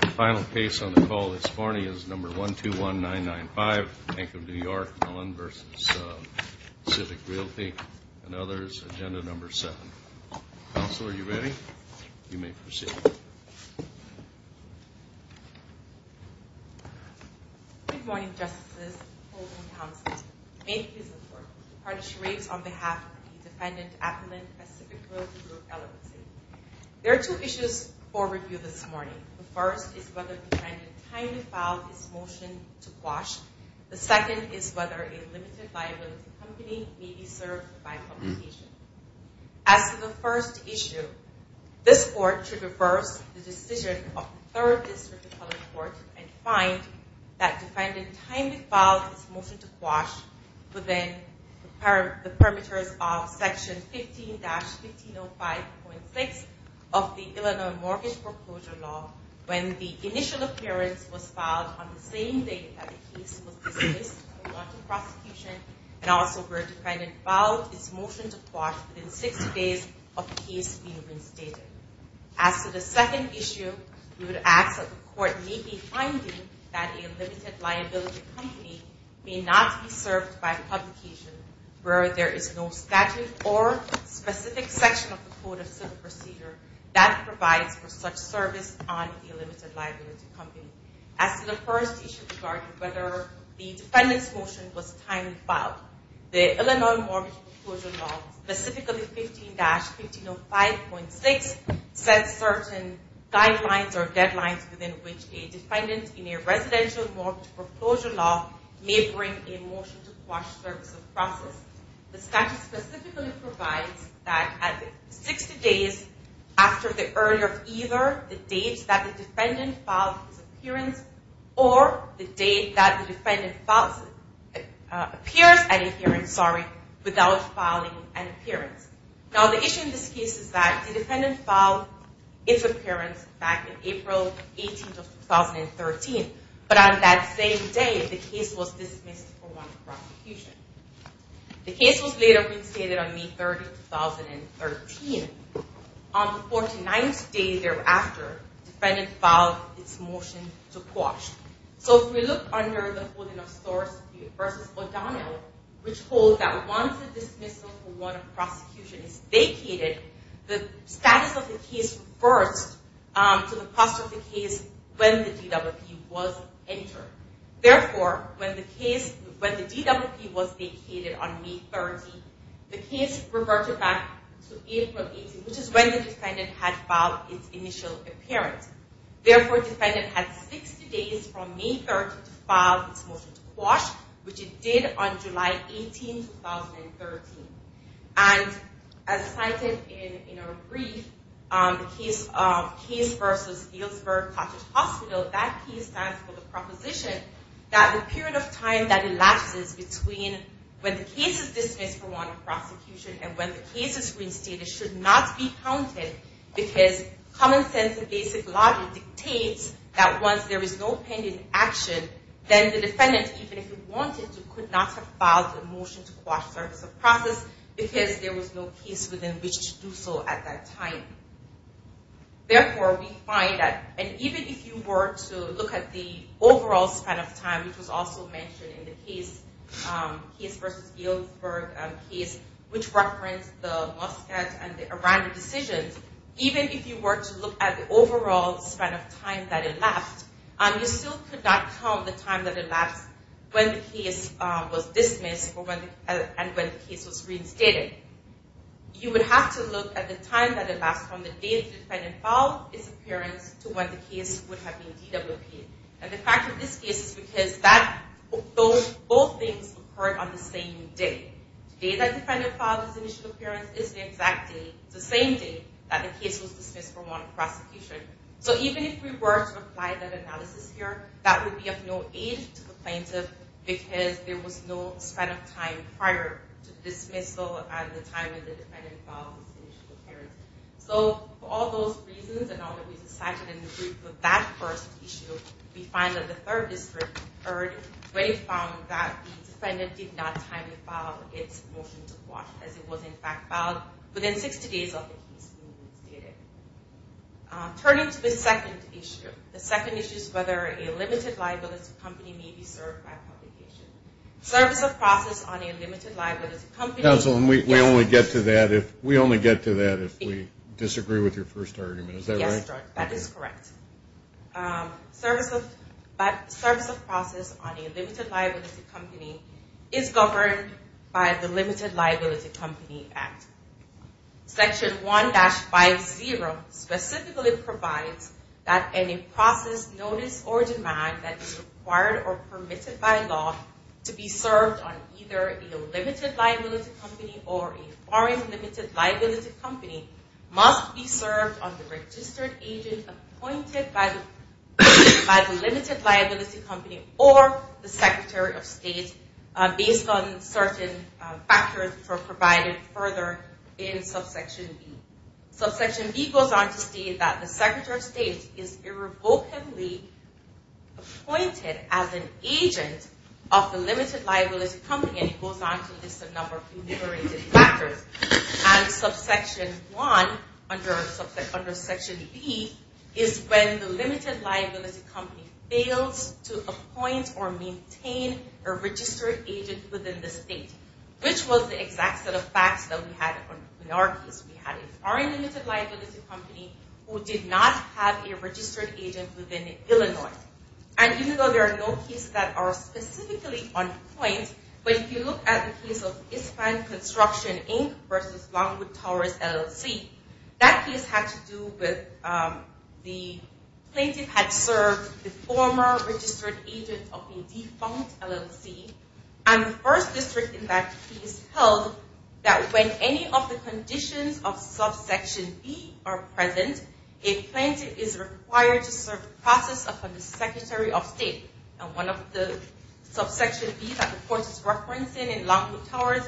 The final case on the call this morning is number 121995, Bank of New York Mellon v. Pacific Royalty and others. Agenda number seven. Counsel, are you ready? You may proceed. Good morning, Justices. Holden Townsend. I make this report to punish rapes on behalf of the defendant, and to appellate Pacific Royalty Group, LLC. There are two issues for review this morning. The first is whether the defendant timely filed his motion to quash. The second is whether a limited liability company may be served by publication. As to the first issue, this Court should reverse the decision of the Third District Appellate Court and find that the defendant timely filed his motion to quash within the parameters of Section 15-1505.6 of the Illinois Mortgage Proposal Law, when the initial appearance was filed on the same day that the case was dismissed by the London prosecution, and also where the defendant filed his motion to quash within 60 days of the case being reinstated. As to the second issue, we would ask that the Court meet behind you that a limited liability company may not be served by publication where there is no statute or specific section of the Code of Civil Procedure that provides for such service on a limited liability company. As to the first issue regarding whether the defendant's motion was timely filed, the Illinois Mortgage Proposal Law, specifically 15-1505.6, sets certain guidelines or deadlines within which a defendant in a residential mortgage proposal law may bring a motion to quash service of process. The statute specifically provides that at 60 days after the earlier of either the date that the defendant filed his appearance or the date that the defendant appears at a hearing without filing an appearance. Now the issue in this case is that the defendant filed his appearance back in April 18, 2013, but on that same day the case was dismissed for one prosecution. The case was later reinstated on May 30, 2013. On the 49th day thereafter, the defendant filed its motion to quash. So if we look under the holding of source versus O'Donnell, which holds that once the dismissal for one prosecution is vacated, the status of the case refers to the posture of the case when the DWP was entered. Therefore, when the DWP was vacated on May 30, the case reverted back to April 18, which is when the defendant had filed its initial appearance. Therefore, the defendant had 60 days from May 30 to file his motion to quash, which it did on July 18, 2013. And as cited in our brief on the case versus Healdsburg Cottage Hospital, that case stands for the proposition that the period of time that elapses between when the case is dismissed for one prosecution and when the case is reinstated should not be counted because common sense and basic logic dictates that once there is no pending action, then the defendant, even if he wanted to, could not have filed a motion to quash the process because there was no case within which to do so at that time. Therefore, we find that even if you were to look at the overall span of time, which was also mentioned in the case versus Healdsburg case, which referenced the Muscat and the Aranda decisions, even if you were to look at the overall span of time that it left, you still could not count the time that elapsed when the case was dismissed and when the case was reinstated. You would have to look at the time that elapsed from the day the defendant filed his appearance to when the case would have been DWP'd. And the fact of this case is because both things occurred on the same day. The day that the defendant filed his initial appearance is the exact day, the same day, that the case was dismissed for one prosecution. So even if we were to apply that analysis here, that would be of no aid to the plaintiff because there was no span of time prior to the dismissal and the time that the defendant filed his initial appearance. So for all those reasons and all that we decided in the brief of that first issue, we find that the third district heard when it found that the defendant did not timely file its motion to quash, as it was in fact filed within 60 days of the case being reinstated. Turning to the second issue, the second issue is whether a limited liability company may be served by publication. Service of process on a limited liability company... Counsel, we only get to that if we disagree with your first argument. Is that right? Yes, that is correct. Service of process on a limited liability company is governed by the Limited Liability Company Act. Section 1-50 specifically provides that any process, notice, or demand that is required or permitted by law to be served on either a limited liability company or a foreign limited liability company must be served on the registered agent appointed by the limited liability company or the Secretary of State based on certain factors provided further in subsection B. Subsection B goes on to state that the Secretary of State is irrevocably appointed as an agent of the limited liability company and it goes on to list a number of uniterated factors. And subsection 1 under section B is when the limited liability company fails to appoint or maintain a registered agent within the state, which was the exact set of facts that we had in our case. We had a foreign limited liability company who did not have a registered agent within Illinois. And even though there are no cases that are specifically on point, but if you look at the case of Eastland Construction Inc. versus Longwood Towers LLC, that case had to do with the plaintiff had served the former registered agent of the defunct LLC. And the first district in that case held that when any of the conditions of subsection B are present, a plaintiff is required to serve the process of the Secretary of State. And one of the subsection B that the court is referencing in Longwood Towers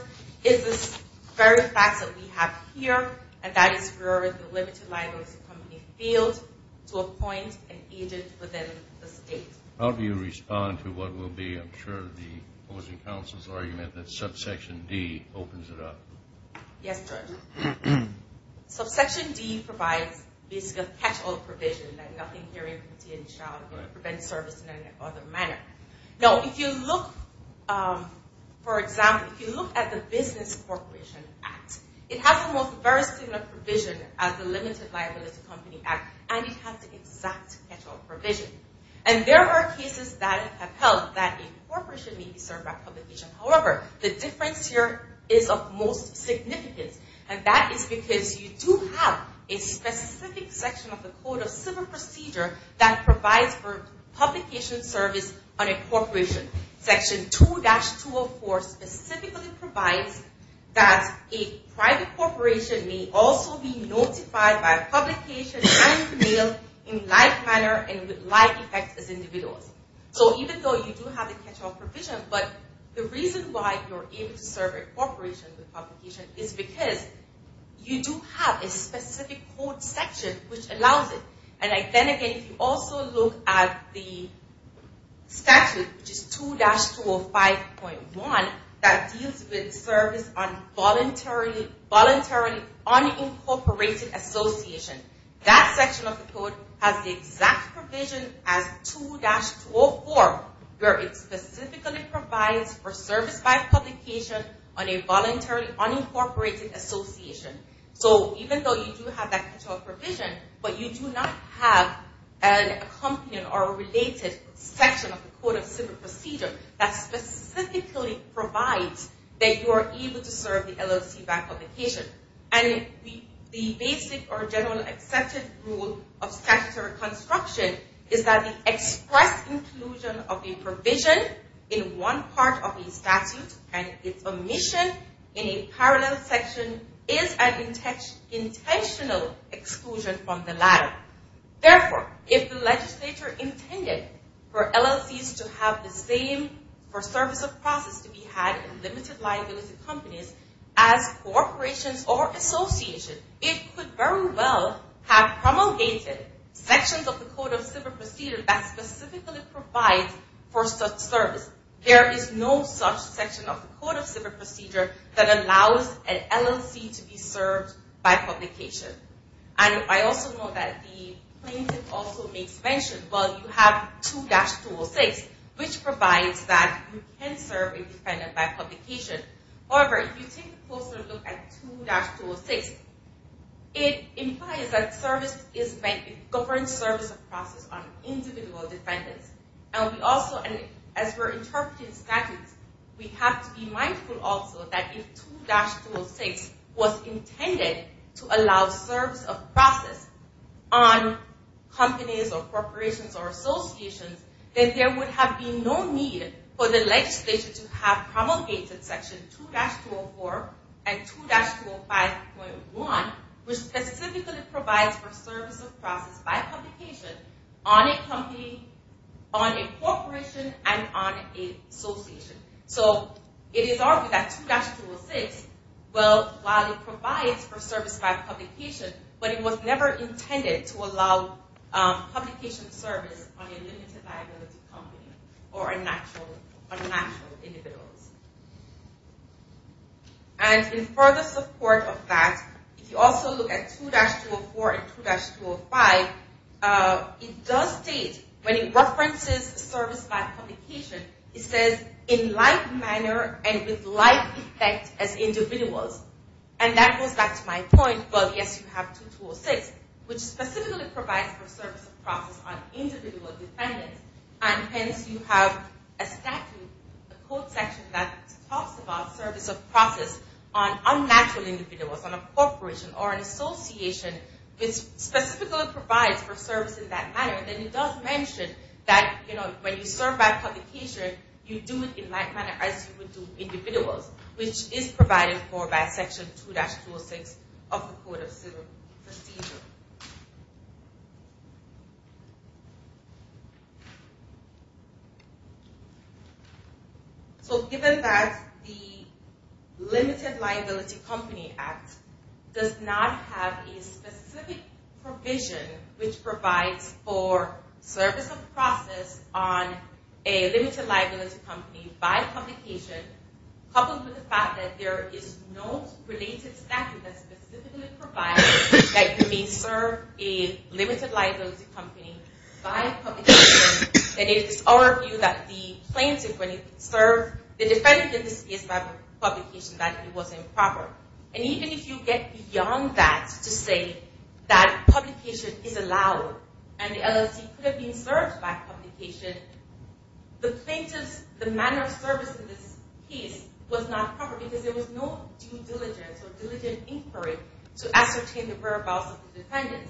is this very fact that we have here, and that is for the limited liability company failed to appoint an agent within the state. How do you respond to what will be, I'm sure, the opposing counsel's argument that subsection D opens it up? Yes, Judge. Subsection D provides, basically, a catch-all provision, like nothing, hearing, duty, and child. It prevents service in any other manner. Now, if you look, for example, if you look at the Business Corporation Act, it has the most very similar provision as the Limited Liability Company Act, and it has the exact catch-all provision. And there are cases that have held that a corporation may be served by publication. However, the difference here is of most significance, and that is because you do have a specific section of the Code of Civil Procedure that provides for publication service on a corporation. Section 2-204 specifically provides that a private corporation may also be notified by publication and mailed in like manner and with like effect as individuals. So even though you do have a catch-all provision, but the reason why you're able to serve a corporation with publication is because you do have a specific code section which allows it. And then again, if you also look at the statute, which is 2-205.1, that deals with service on voluntarily unincorporated association. That section of the Code has the exact provision as 2-204, where it specifically provides for service by publication on a voluntarily unincorporated association. So even though you do have that catch-all provision, but you do not have an accompanying or related section of the Code of Civil Procedure that specifically provides that you are able to serve the LLC by publication. And the basic or generally accepted rule of statutory construction is that the express inclusion of a provision in one part of a statute and its omission in a parallel section is an intentional exclusion from the latter. Therefore, if the legislature intended for LLCs to have the same for service of process to be had in limited liability companies as corporations or associations, it could very well have promulgated sections of the Code of Civil Procedure that specifically provides for such service. There is no such section of the Code of Civil Procedure that allows an LLC to be served by publication. And I also know that the plaintiff also makes mention, well, you have 2-206, which provides that you can serve a defendant by publication. However, if you take a closer look at 2-206, it implies that service is meant to govern service of process on individual defendants. And we also, as we're interpreting statutes, we have to be mindful also that if 2-206 was intended to allow service of process on companies or corporations or associations, then there would have been no need for the legislature to have promulgated section 2-204 and 2-205.1, which specifically provides for service of process by publication on a company, on a corporation, and on an association. So it is argued that 2-206, well, while it provides for service by publication, but it was never intended to allow publication service on a limited liability company or a natural individual. And in further support of that, if you also look at 2-204 and 2-205, it does state, when it references service by publication, it says, in like manner and with like effect as individuals. And that goes back to my point, well, yes, you have 2-206, which specifically provides for service of process on individual defendants. And hence, you have a statute, a court section that talks about service of process on unnatural individuals, on a corporation or an association, which specifically provides for service in that manner. And then it does mention that, you know, when you serve by publication, you do it in like manner as you would do individuals, which is provided for by section 2-206 of the court of civil procedure. So given that the Limited Liability Company Act does not have a specific provision, which provides for service of process on a limited liability company by publication, coupled with the fact that there is no related statute that specifically provides that you may serve a limited liability company by publication, then it is our view that the plaintiff, when he served the defendant in this case by publication, that it was improper. And even if you get beyond that to say that publication is allowed and the LLC could have been served by publication, the plaintiff's manner of service in this case was not proper because there was no due diligence or diligent inquiry to ascertain the whereabouts of the defendant.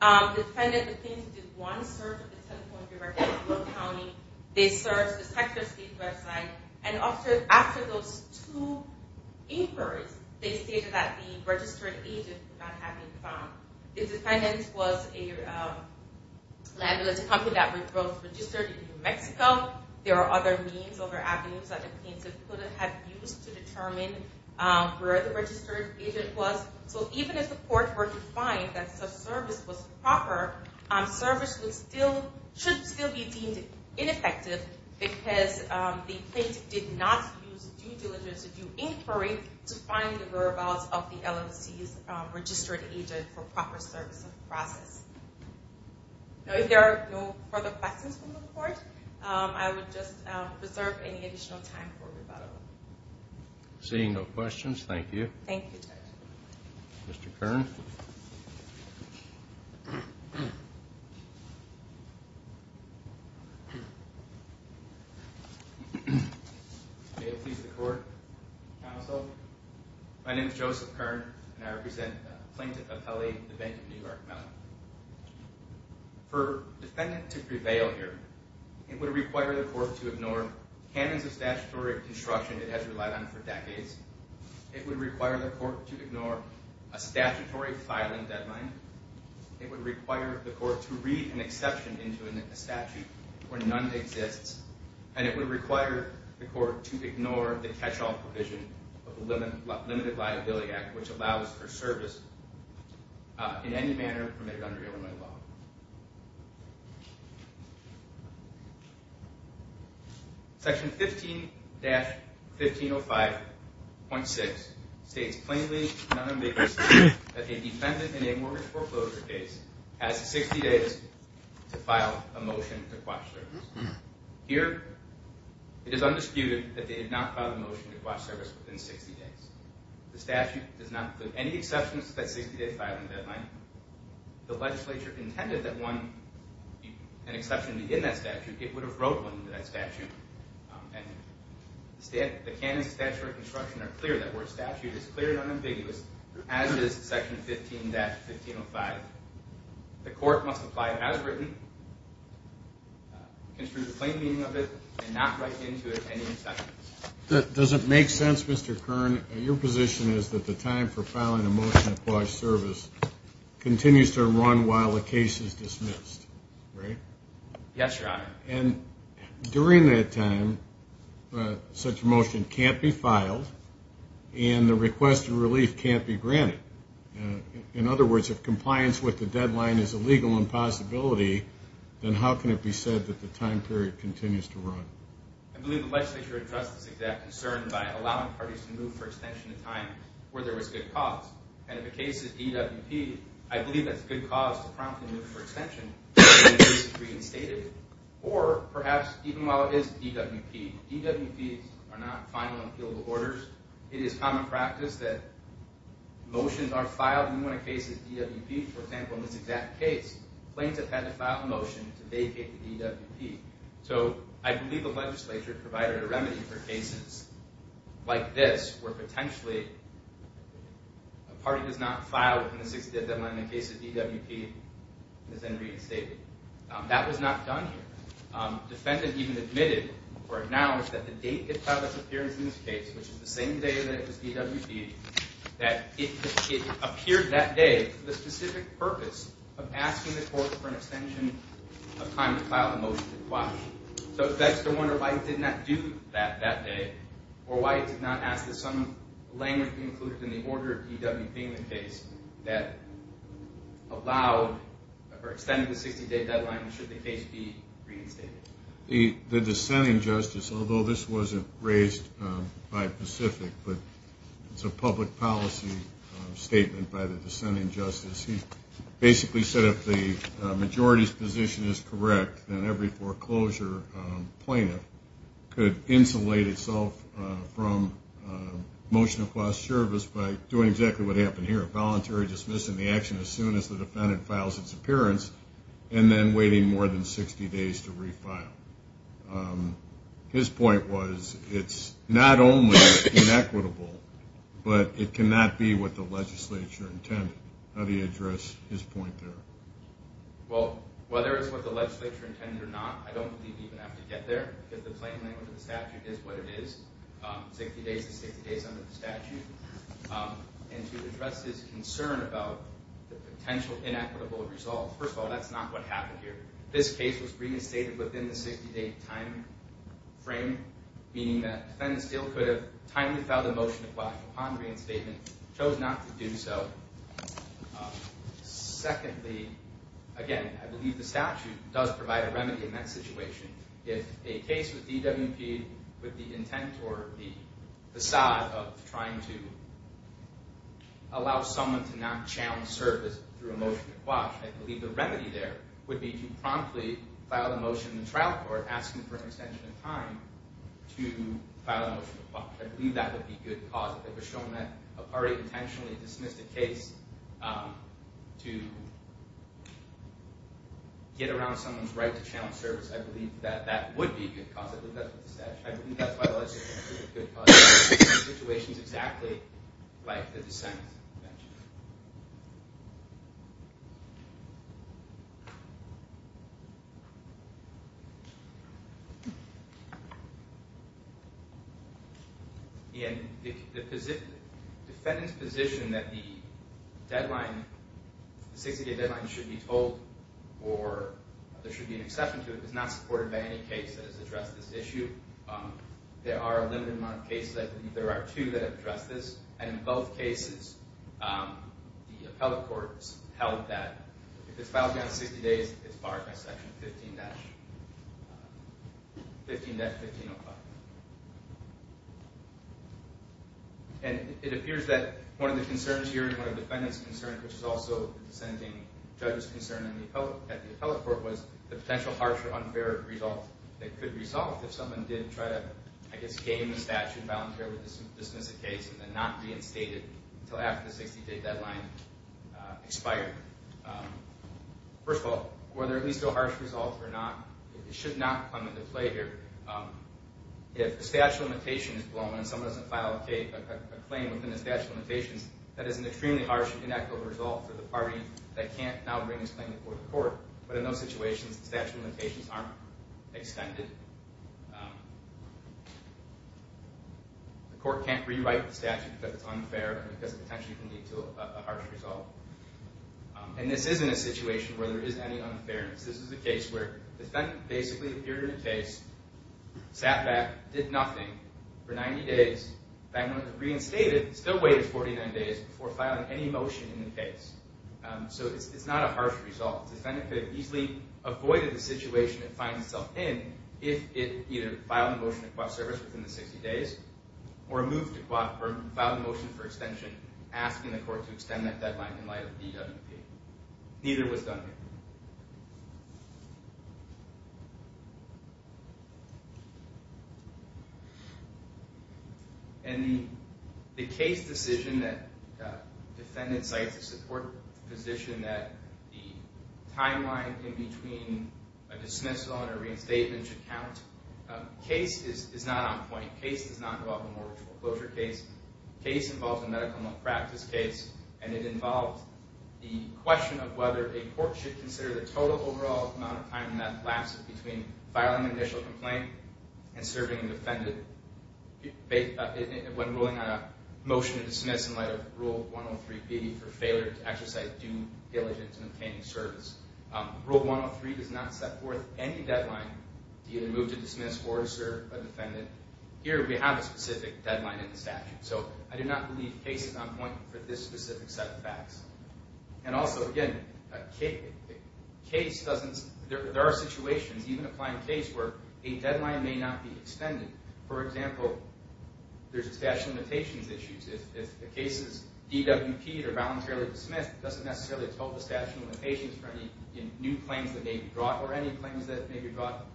The defendant, the plaintiff, did one search of the telephone directory of the county, they searched the Texas State website, and after those two inquiries, they stated that the registered agent could not have been found. There are other means, other avenues that the plaintiff could have used to determine where the registered agent was. So even if the court were to find that such service was proper, service should still be deemed ineffective because the plaintiff did not use due diligence to do inquiry to find the whereabouts of the LLC's registered agent for proper service of process. Now, if there are no further questions from the court, I would just reserve any additional time for rebuttal. Seeing no questions, thank you. Thank you, Judge. Mr. Kern. May it please the Court, Counsel, my name is Joseph Kern, and I represent Plaintiff Appelli, the Bank of New York, Maryland. For a defendant to prevail here, it would require the court to ignore canons of statutory construction it has relied on for decades, it would require the court to ignore a statutory filing deadline, it would require the court to read an exception into a statute where none exists, and it would require the court to ignore the catch-all provision of the Limited Liability Act, which allows for service in any manner permitted under Illinois law. Section 15-1505.6 states plainly and unambiguously that a defendant in a mortgage foreclosure case has 60 days to file a motion to quash service. Here, it is undisputed that they did not file a motion to quash service within 60 days. The statute does not include any exceptions to that 60-day filing deadline. If the legislature intended that one, an exception be in that statute, it would have wrote one in that statute. And the canons of statutory construction are clear that where a statute is clear and unambiguous, as is Section 15-1505, the court must apply it as written, construe the plain meaning of it, and not write into it any exceptions. Does it make sense, Mr. Kern, your position is that the time for filing a motion to quash service continues to run while the case is dismissed, right? Yes, Your Honor. And during that time, such a motion can't be filed, and the request of relief can't be granted. In other words, if compliance with the deadline is a legal impossibility, then how can it be said that the time period continues to run? I believe the legislature addressed this exact concern by allowing parties to move for extension in time where there was good cause. And if the case is DWP, I believe that's a good cause to promptly move for extension when the case is reinstated. Or, perhaps, even while it is DWP. DWPs are not final and appealable orders. It is common practice that motions are filed when a case is DWP. For example, in this exact case, plaintiff had to file a motion to vacate the DWP. So I believe the legislature provided a remedy for cases like this where potentially a party does not file within the 60-day deadline when the case is DWP and is then reinstated. That was not done here. Defendant even admitted or acknowledged that the date it filed its appearance in this case, which is the same day that it was DWP, that it appeared that day for the specific purpose of asking the court for an extension of time to file a motion to vacate. So it begs to wonder why it did not do that that day, or why it did not ask that some language be included in the order of DWP in the case that allowed for extending the 60-day deadline should the case be reinstated. The dissenting justice, although this was not raised by Pacific, but it is a public policy statement by the dissenting justice, he basically said if the majority's position is correct, then every foreclosure plaintiff could insulate itself from motion across service by doing exactly what happened here, voluntary dismissing the action as soon as the defendant files its appearance and then waiting more than 60 days to refile. His point was it's not only inequitable, but it cannot be what the legislature intended. How do you address his point there? Well, whether it's what the legislature intended or not, I don't believe you even have to get there, because the plain language of the statute is what it is, 60 days to 60 days under the statute. And to address his concern about the potential inequitable result, first of all, that's not what happened here. This case was reinstated within the 60-day timeframe, meaning that the defendant still could have timely filed a motion to quash upon reinstatement, chose not to do so. Secondly, again, I believe the statute does provide a remedy in that situation. If a case with DWP with the intent or the facade of trying to allow someone to not channel service through a motion to quash, I believe the remedy there would be to promptly file a motion in the trial court asking for an extension of time to file a motion to quash. I believe that would be a good cause. If it was shown that a party intentionally dismissed a case to get around someone's right to channel service, I believe that that would be a good cause. I believe that's what the statute says. I believe that's why the legislature thinks it's a good cause. In situations exactly like the dissent mentioned. And the defendant's position that the 60-day deadline should be told or there should be an exception to it is not supported by any case that has addressed this issue. There are a limited amount of cases. I believe there are two that have addressed this. And in both cases, the appellate courts held that if it's filed beyond 60 days, it's barred by Section 15-1505. And it appears that one of the concerns here and one of the defendants' concerns, which is also the dissenting judge's concern at the appellate court, was the potential harsh or unfair result that could result if someone did try to, I guess, gain the statute, voluntarily dismiss a case, and then not reinstate it until after the 60-day deadline expired. First of all, whether at least a harsh result or not, it should not come into play here. If the statute of limitations is blown and someone doesn't file a claim within the statute of limitations, that is an extremely harsh and inequitable result for the party that can't now bring its claim before the court. But in those situations, the statute of limitations aren't extended. The court can't rewrite the statute because it's unfair and because it potentially can lead to a harsh result. And this isn't a situation where there is any unfairness. This is a case where the defendant basically appeared in a case, sat back, did nothing for 90 days, back when it was reinstated, still waited 49 days before filing any motion in the case. So it's not a harsh result. The defendant could have easily avoided the situation it finds itself in if it either filed a motion to court service within the 60 days or moved to court or filed a motion for extension asking the court to extend that deadline in light of DWP. Neither was done here. And the case decision that the defendant cites a support position that the timeline in between a dismissal and a reinstatement should count. Case is not on point. Case does not involve a mortgage foreclosure case. Case involves a medical malpractice case, and it involves the question of whether a court should consider the total overall amount of time that lapses between filing an initial complaint and serving a defendant when ruling on a motion to dismiss in light of Rule 103B for failure to exercise due diligence in obtaining service. Rule 103 does not set forth any deadline to either move to dismiss or to serve a defendant. Here we have a specific deadline in the statute. So I do not believe case is on point for this specific set of facts. And also, again, there are situations, even applying case, where a deadline may not be extended. For example, there's a statute of limitations issues. If a case is DWP'd or voluntarily dismissed, it doesn't necessarily tell the statute of limitations for any new claims that may be brought or any claims that may be brought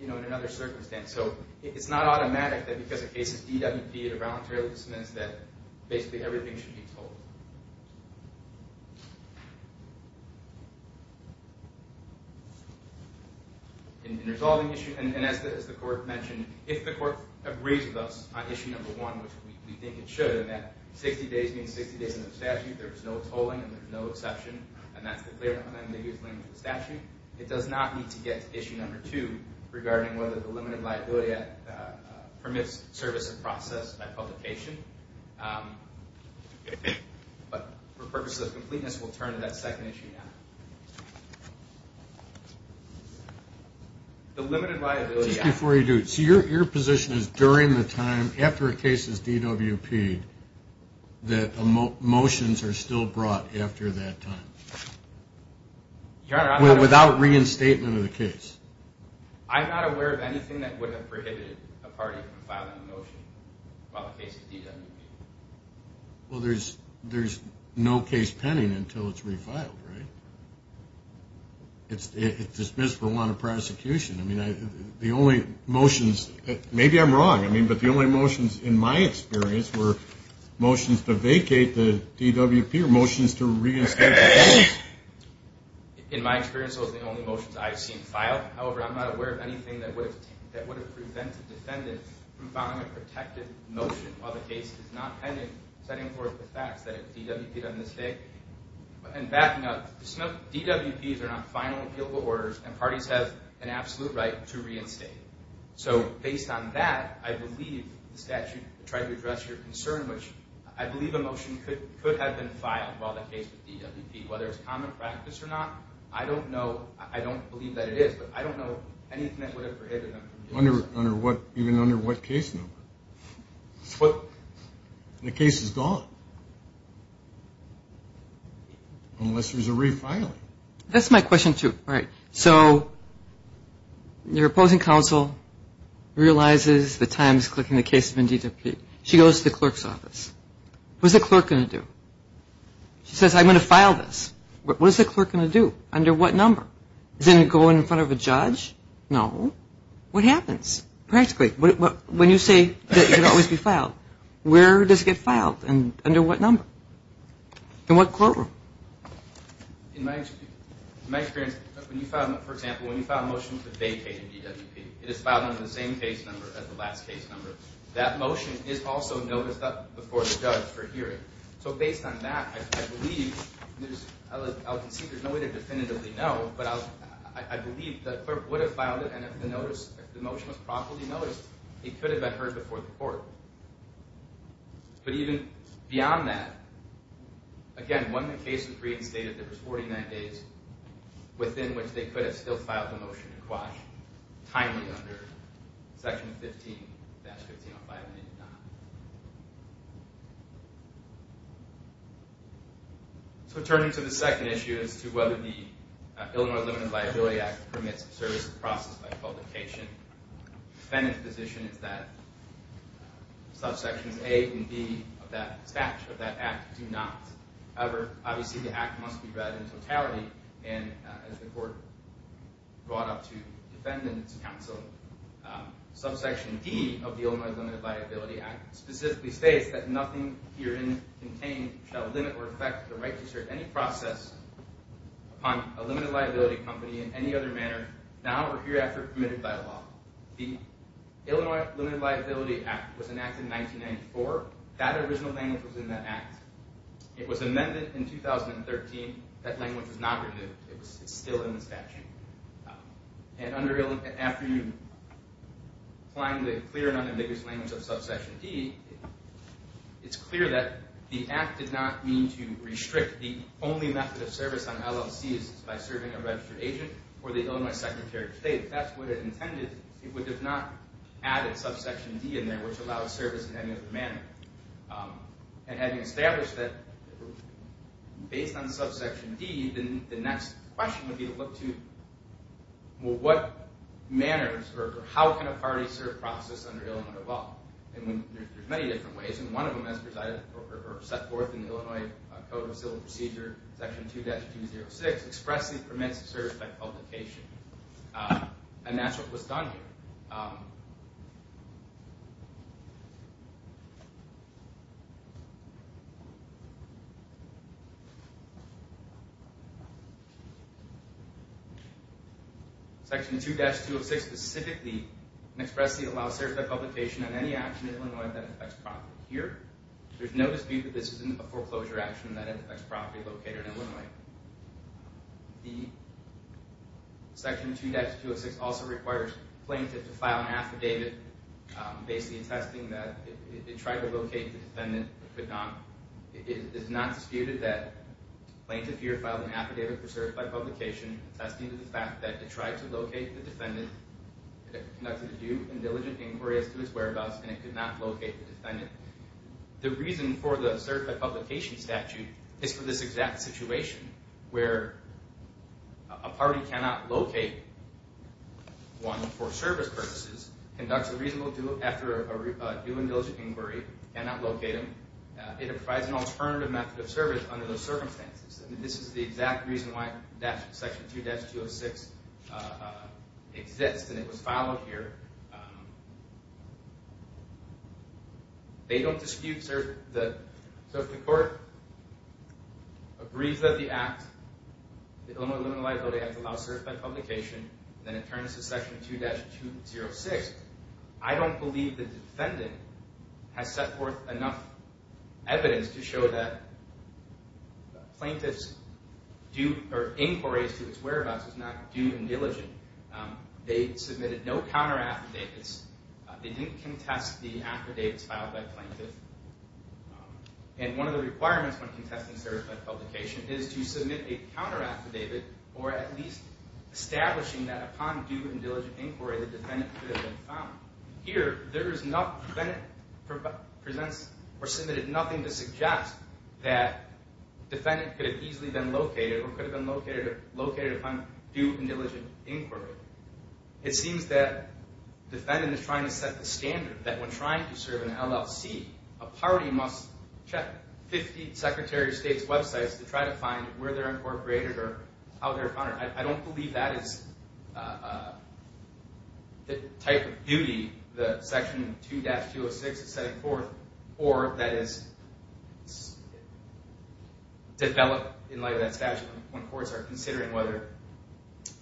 in another circumstance. So it's not automatic that because a case is DWP'd or voluntarily dismissed that basically everything should be totaled. In resolving issues, and as the court mentioned, if the court agrees with us on Issue No. 1, which we think it should in that 60 days means 60 days in the statute, there is no tolling and there is no exception, and that's declared in the ambiguous language of the statute, it does not need to get to Issue No. 2 regarding whether the Limited Liability Act permits service and process by publication. But for purposes of completeness, we'll turn to that second issue now. The Limited Liability Act. Just before you do, so your position is during the time after a case is DWP'd that motions are still brought after that time? Without reinstatement of the case? I'm not aware of anything that would have prohibited a party from filing a motion while the case is DWP'd. Well, there's no case pending until it's refiled, right? It's dismissed for want of prosecution. The only motions, maybe I'm wrong, but the only motions in my experience were motions to vacate the DWP or motions to reinstate the case. In my experience, those are the only motions I've seen filed. However, I'm not aware of anything that would have prevented defendants from filing a protective motion while the case is not pending, setting forth the facts that it's DWP'd on this day. And backing up, DWPs are not final appealable orders and parties have an absolute right to reinstate. So based on that, I believe the statute tried to address your concern, which I believe a motion could have been filed while the case was DWP'd. Whether it's common practice or not, I don't know. I don't believe that it is, but I don't know anything that would have prohibited them from doing so. Even under what case number? The case is gone. Unless there's a refiling. That's my question, too. All right. So your opposing counsel realizes the time is clicking in the case of a DWP. She goes to the clerk's office. What's the clerk going to do? She says, I'm going to file this. What is the clerk going to do? Under what number? Is it going in front of a judge? No. What happens? Practically, when you say that it can always be filed, where does it get filed and under what number? In what courtroom? In my experience, for example, when you file a motion to vacate a DWP, it is filed under the same case number as the last case number. That motion is also noticed before the judge for hearing. So based on that, I believe there's no way to definitively know, but I believe the clerk would have filed it, and if the motion was properly noticed, it could have been heard before the court. But even beyond that, again, when the case was reinstated, there was 49 days within which they could have still filed the motion to quash, timely under Section 15-1505, and they did not. So turning to the second issue as to whether the Illinois Limited Liability Act permits the service to be processed by publication, the defendant's position is that subsections A and B of that statute, of that act, do not. However, obviously the act must be read in totality, and as the court brought up to defendants' counsel, subsection D of the Illinois Limited Liability Act specifically states that nothing herein contained shall limit or affect the right to assert any process upon a limited liability company in any other manner, now or hereafter permitted by law. The Illinois Limited Liability Act was enacted in 1994. That original language was in that act. It was amended in 2013. That language was not removed. It's still in the statute. And after you find the clear and unambiguous language of subsection D, it's clear that the act did not mean to restrict the only method of service on LLCs by serving a registered agent or the Illinois Secretary of State. That's what it intended. It would have not added subsection D in there, which allows service in any other manner. And having established that based on subsection D, the next question would be to look to what manners or how can a party serve process under Illinois law? And there's many different ways, and one of them has presided or set forth in the Illinois Code of Civil Procedure, section 2-206, expressly permits service by publication. And that's what was done here. Section 2-206 specifically and expressly allows service by publication on any action in Illinois that affects property. Here, there's no dispute that this isn't a foreclosure action that affects property located in Illinois. The section 2-206 also requires plaintiff to file an affidavit basically attesting that it tried to locate the defendant but could not. It is not disputed that plaintiff here filed an affidavit preserved by publication attesting to the fact that it tried to locate the defendant, conducted a due and diligent inquiry as to his whereabouts, and it could not locate the defendant. The reason for the certified publication statute is for this exact situation where a party cannot locate one for service purposes, conducts a reasonable due after a due and diligent inquiry, cannot locate him. It provides an alternative method of service under those circumstances. This is the exact reason why Section 2-206 exists and it was filed here. They don't dispute service. So if the court agrees that the act, the Illinois limited liability act, allows service by publication, then it turns to Section 2-206, I don't believe the defendant has set forth enough evidence to show that the plaintiff's inquiries to his whereabouts is not due and diligent. They submitted no counter affidavits. They didn't contest the affidavits filed by plaintiff. And one of the requirements when contesting service by publication is to submit a counter affidavit or at least establishing that upon due and diligent inquiry the defendant could have been found. Here, there is not presented or submitted nothing to suggest that defendant could have easily been located or could have been located upon due and diligent inquiry. It seems that defendant is trying to set the standard that when trying to serve in an LLC, a party must check 50 Secretary of State's websites to try to find where they're incorporated or how they're founded. I don't believe that is the type of duty that Section 2-206 is setting forth or that is developed in light of that statute when courts are considering whether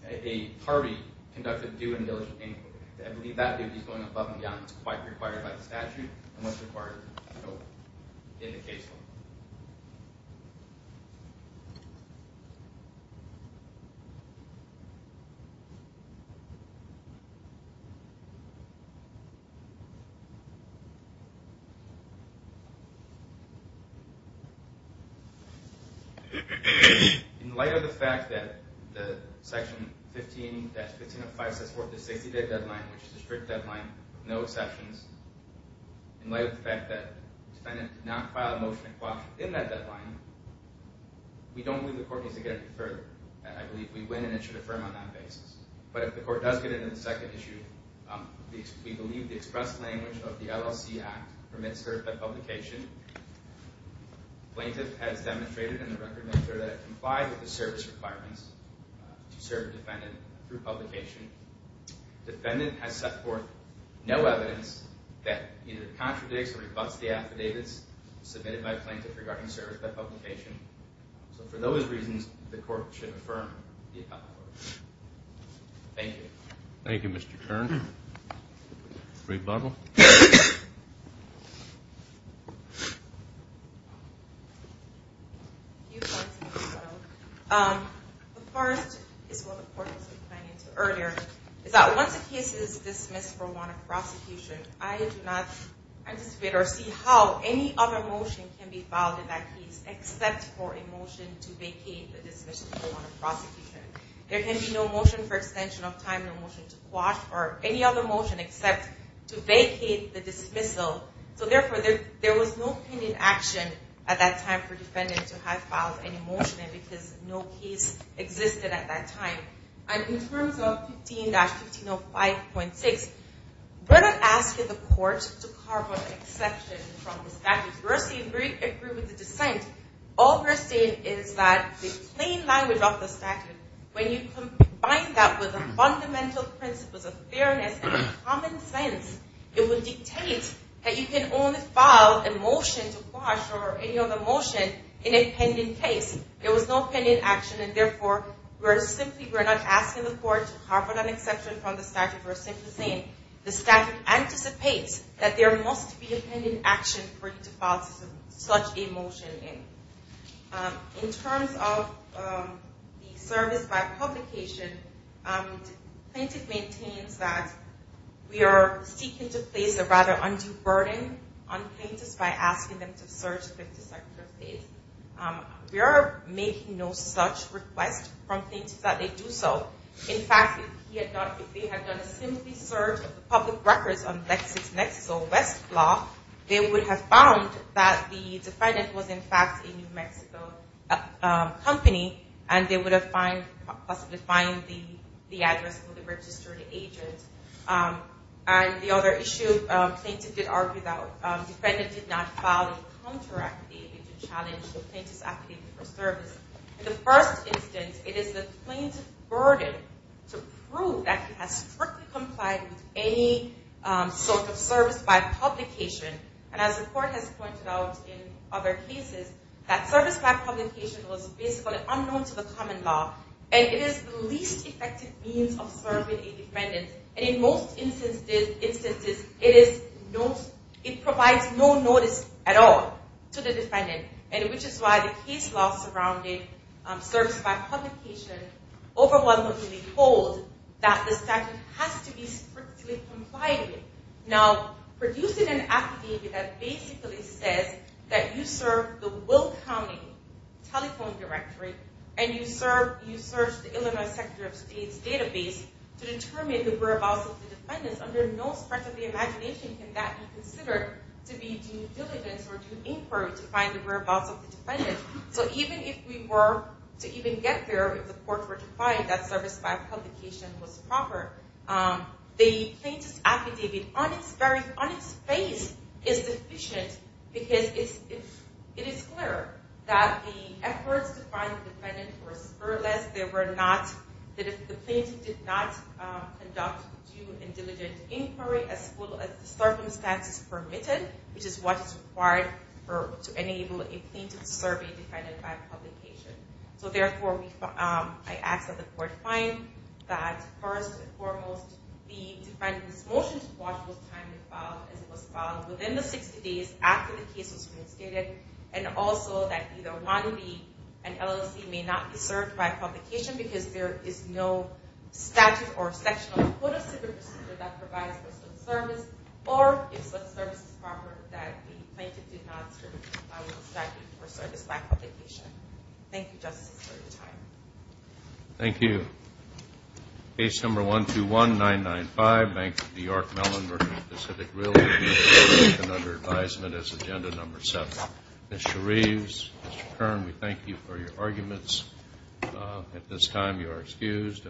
a party conducted due and diligent inquiry. I believe that duty is going above and beyond what's required by the statute and what's required in the case law. In light of the fact that the Section 15-1505 sets forth the 60-day deadline, which is a strict deadline with no exceptions, in light of the fact that defendant did not file a motion in that deadline, we don't believe the court needs to get any further. I believe we win and it should affirm on that basis. But if the court does get into the second issue, we believe the express language of the LLC Act permits service by publication. Plaintiff has demonstrated in the record-maker that it complied with the service requirements to serve a defendant through publication. Defendant has set forth no evidence that either contradicts or rebutts the affidavits submitted by plaintiff regarding service by publication. So for those reasons, the court should affirm the affidavit. Thank you. Thank you, Mr. Kern. Rebuttal. The first is what the court was referring to earlier. It's that once a case is dismissed for warrant of prosecution, I do not anticipate or see how any other motion can be filed in that case except for a motion to vacate the dismissal for warrant of prosecution. There can be no motion for extension of time, no motion to quash, or any other motion except to vacate the dismissal. So therefore, there was no pending action at that time for defendant to have filed any motion because no case existed at that time. And in terms of 15-1505.6, we're not asking the court to carve out an exception from the statute. We're saying we agree with the dissent. All we're saying is that the plain language of the statute, when you combine that with the fundamental principles of fairness and common sense, it would dictate that you can only file a motion to quash or any other motion in a pending case. There was no pending action, and therefore, we're simply, we're not asking the court to carve out an exception from the statute. We're simply saying the statute anticipates that there must be a pending action for you to file such a motion in. In terms of the service by publication, plaintiff maintains that we are seeking to place a rather undue burden on plaintiffs by asking them to search a 50-second period. We are making no such request from plaintiffs that they do so. In fact, if they had done a simple search of the public records on LexisNexis or West Block, they would have found that the defendant was in fact a New Mexico company, and they would have possibly found the address of the registered agent. And the other issue, plaintiff did argue that defendant did not file a counter-act to challenge the plaintiff's application for service. In the first instance, it is the plaintiff's burden to prove that he has strictly complied with any sort of service by publication, and as the court has pointed out in other cases, that service by publication was basically unknown to the common law, and it is the least effective means of serving a defendant. And in most instances, it provides no notice at all to the defendant, which is why the case law surrounding service by publication overwhelmingly holds that the statute has to be strictly complied with. Now, producing an affidavit that basically says that you serve the Will County Telephone Directory, and you serve the Illinois Secretary of State's database to determine the whereabouts of the defendants, under no stretch of the imagination can that be considered to be due diligence or due inquiry to find the whereabouts of the defendant. So even if we were to even get there, if the courts were to find that service by publication was proper, the plaintiff's affidavit on its face is deficient because it is clear that the efforts to find the defendant were spurless, that the plaintiff did not conduct due and diligent inquiry as well as the circumstances permitted, which is what is required to enable a plaintiff's survey defendant by publication. So therefore, I ask that the court find that first and foremost, the defendant's motion to watch was timed and filed as it was filed within the 60 days after the case was reinstated, and also that either 1B and LLC may not be served by publication because there is no statute or section of the court of civil procedure that provides for such service, or if such service is proper that the plaintiff did not serve a statute for service by publication. Thank you, Justice, for your time. Thank you. Case number 121995, Bank of New York-Mellon, Virginia Pacific Realty, under advisement as agenda number 7. Ms. Shereves, Mr. Kern, we thank you for your arguments. At this time, you are excused.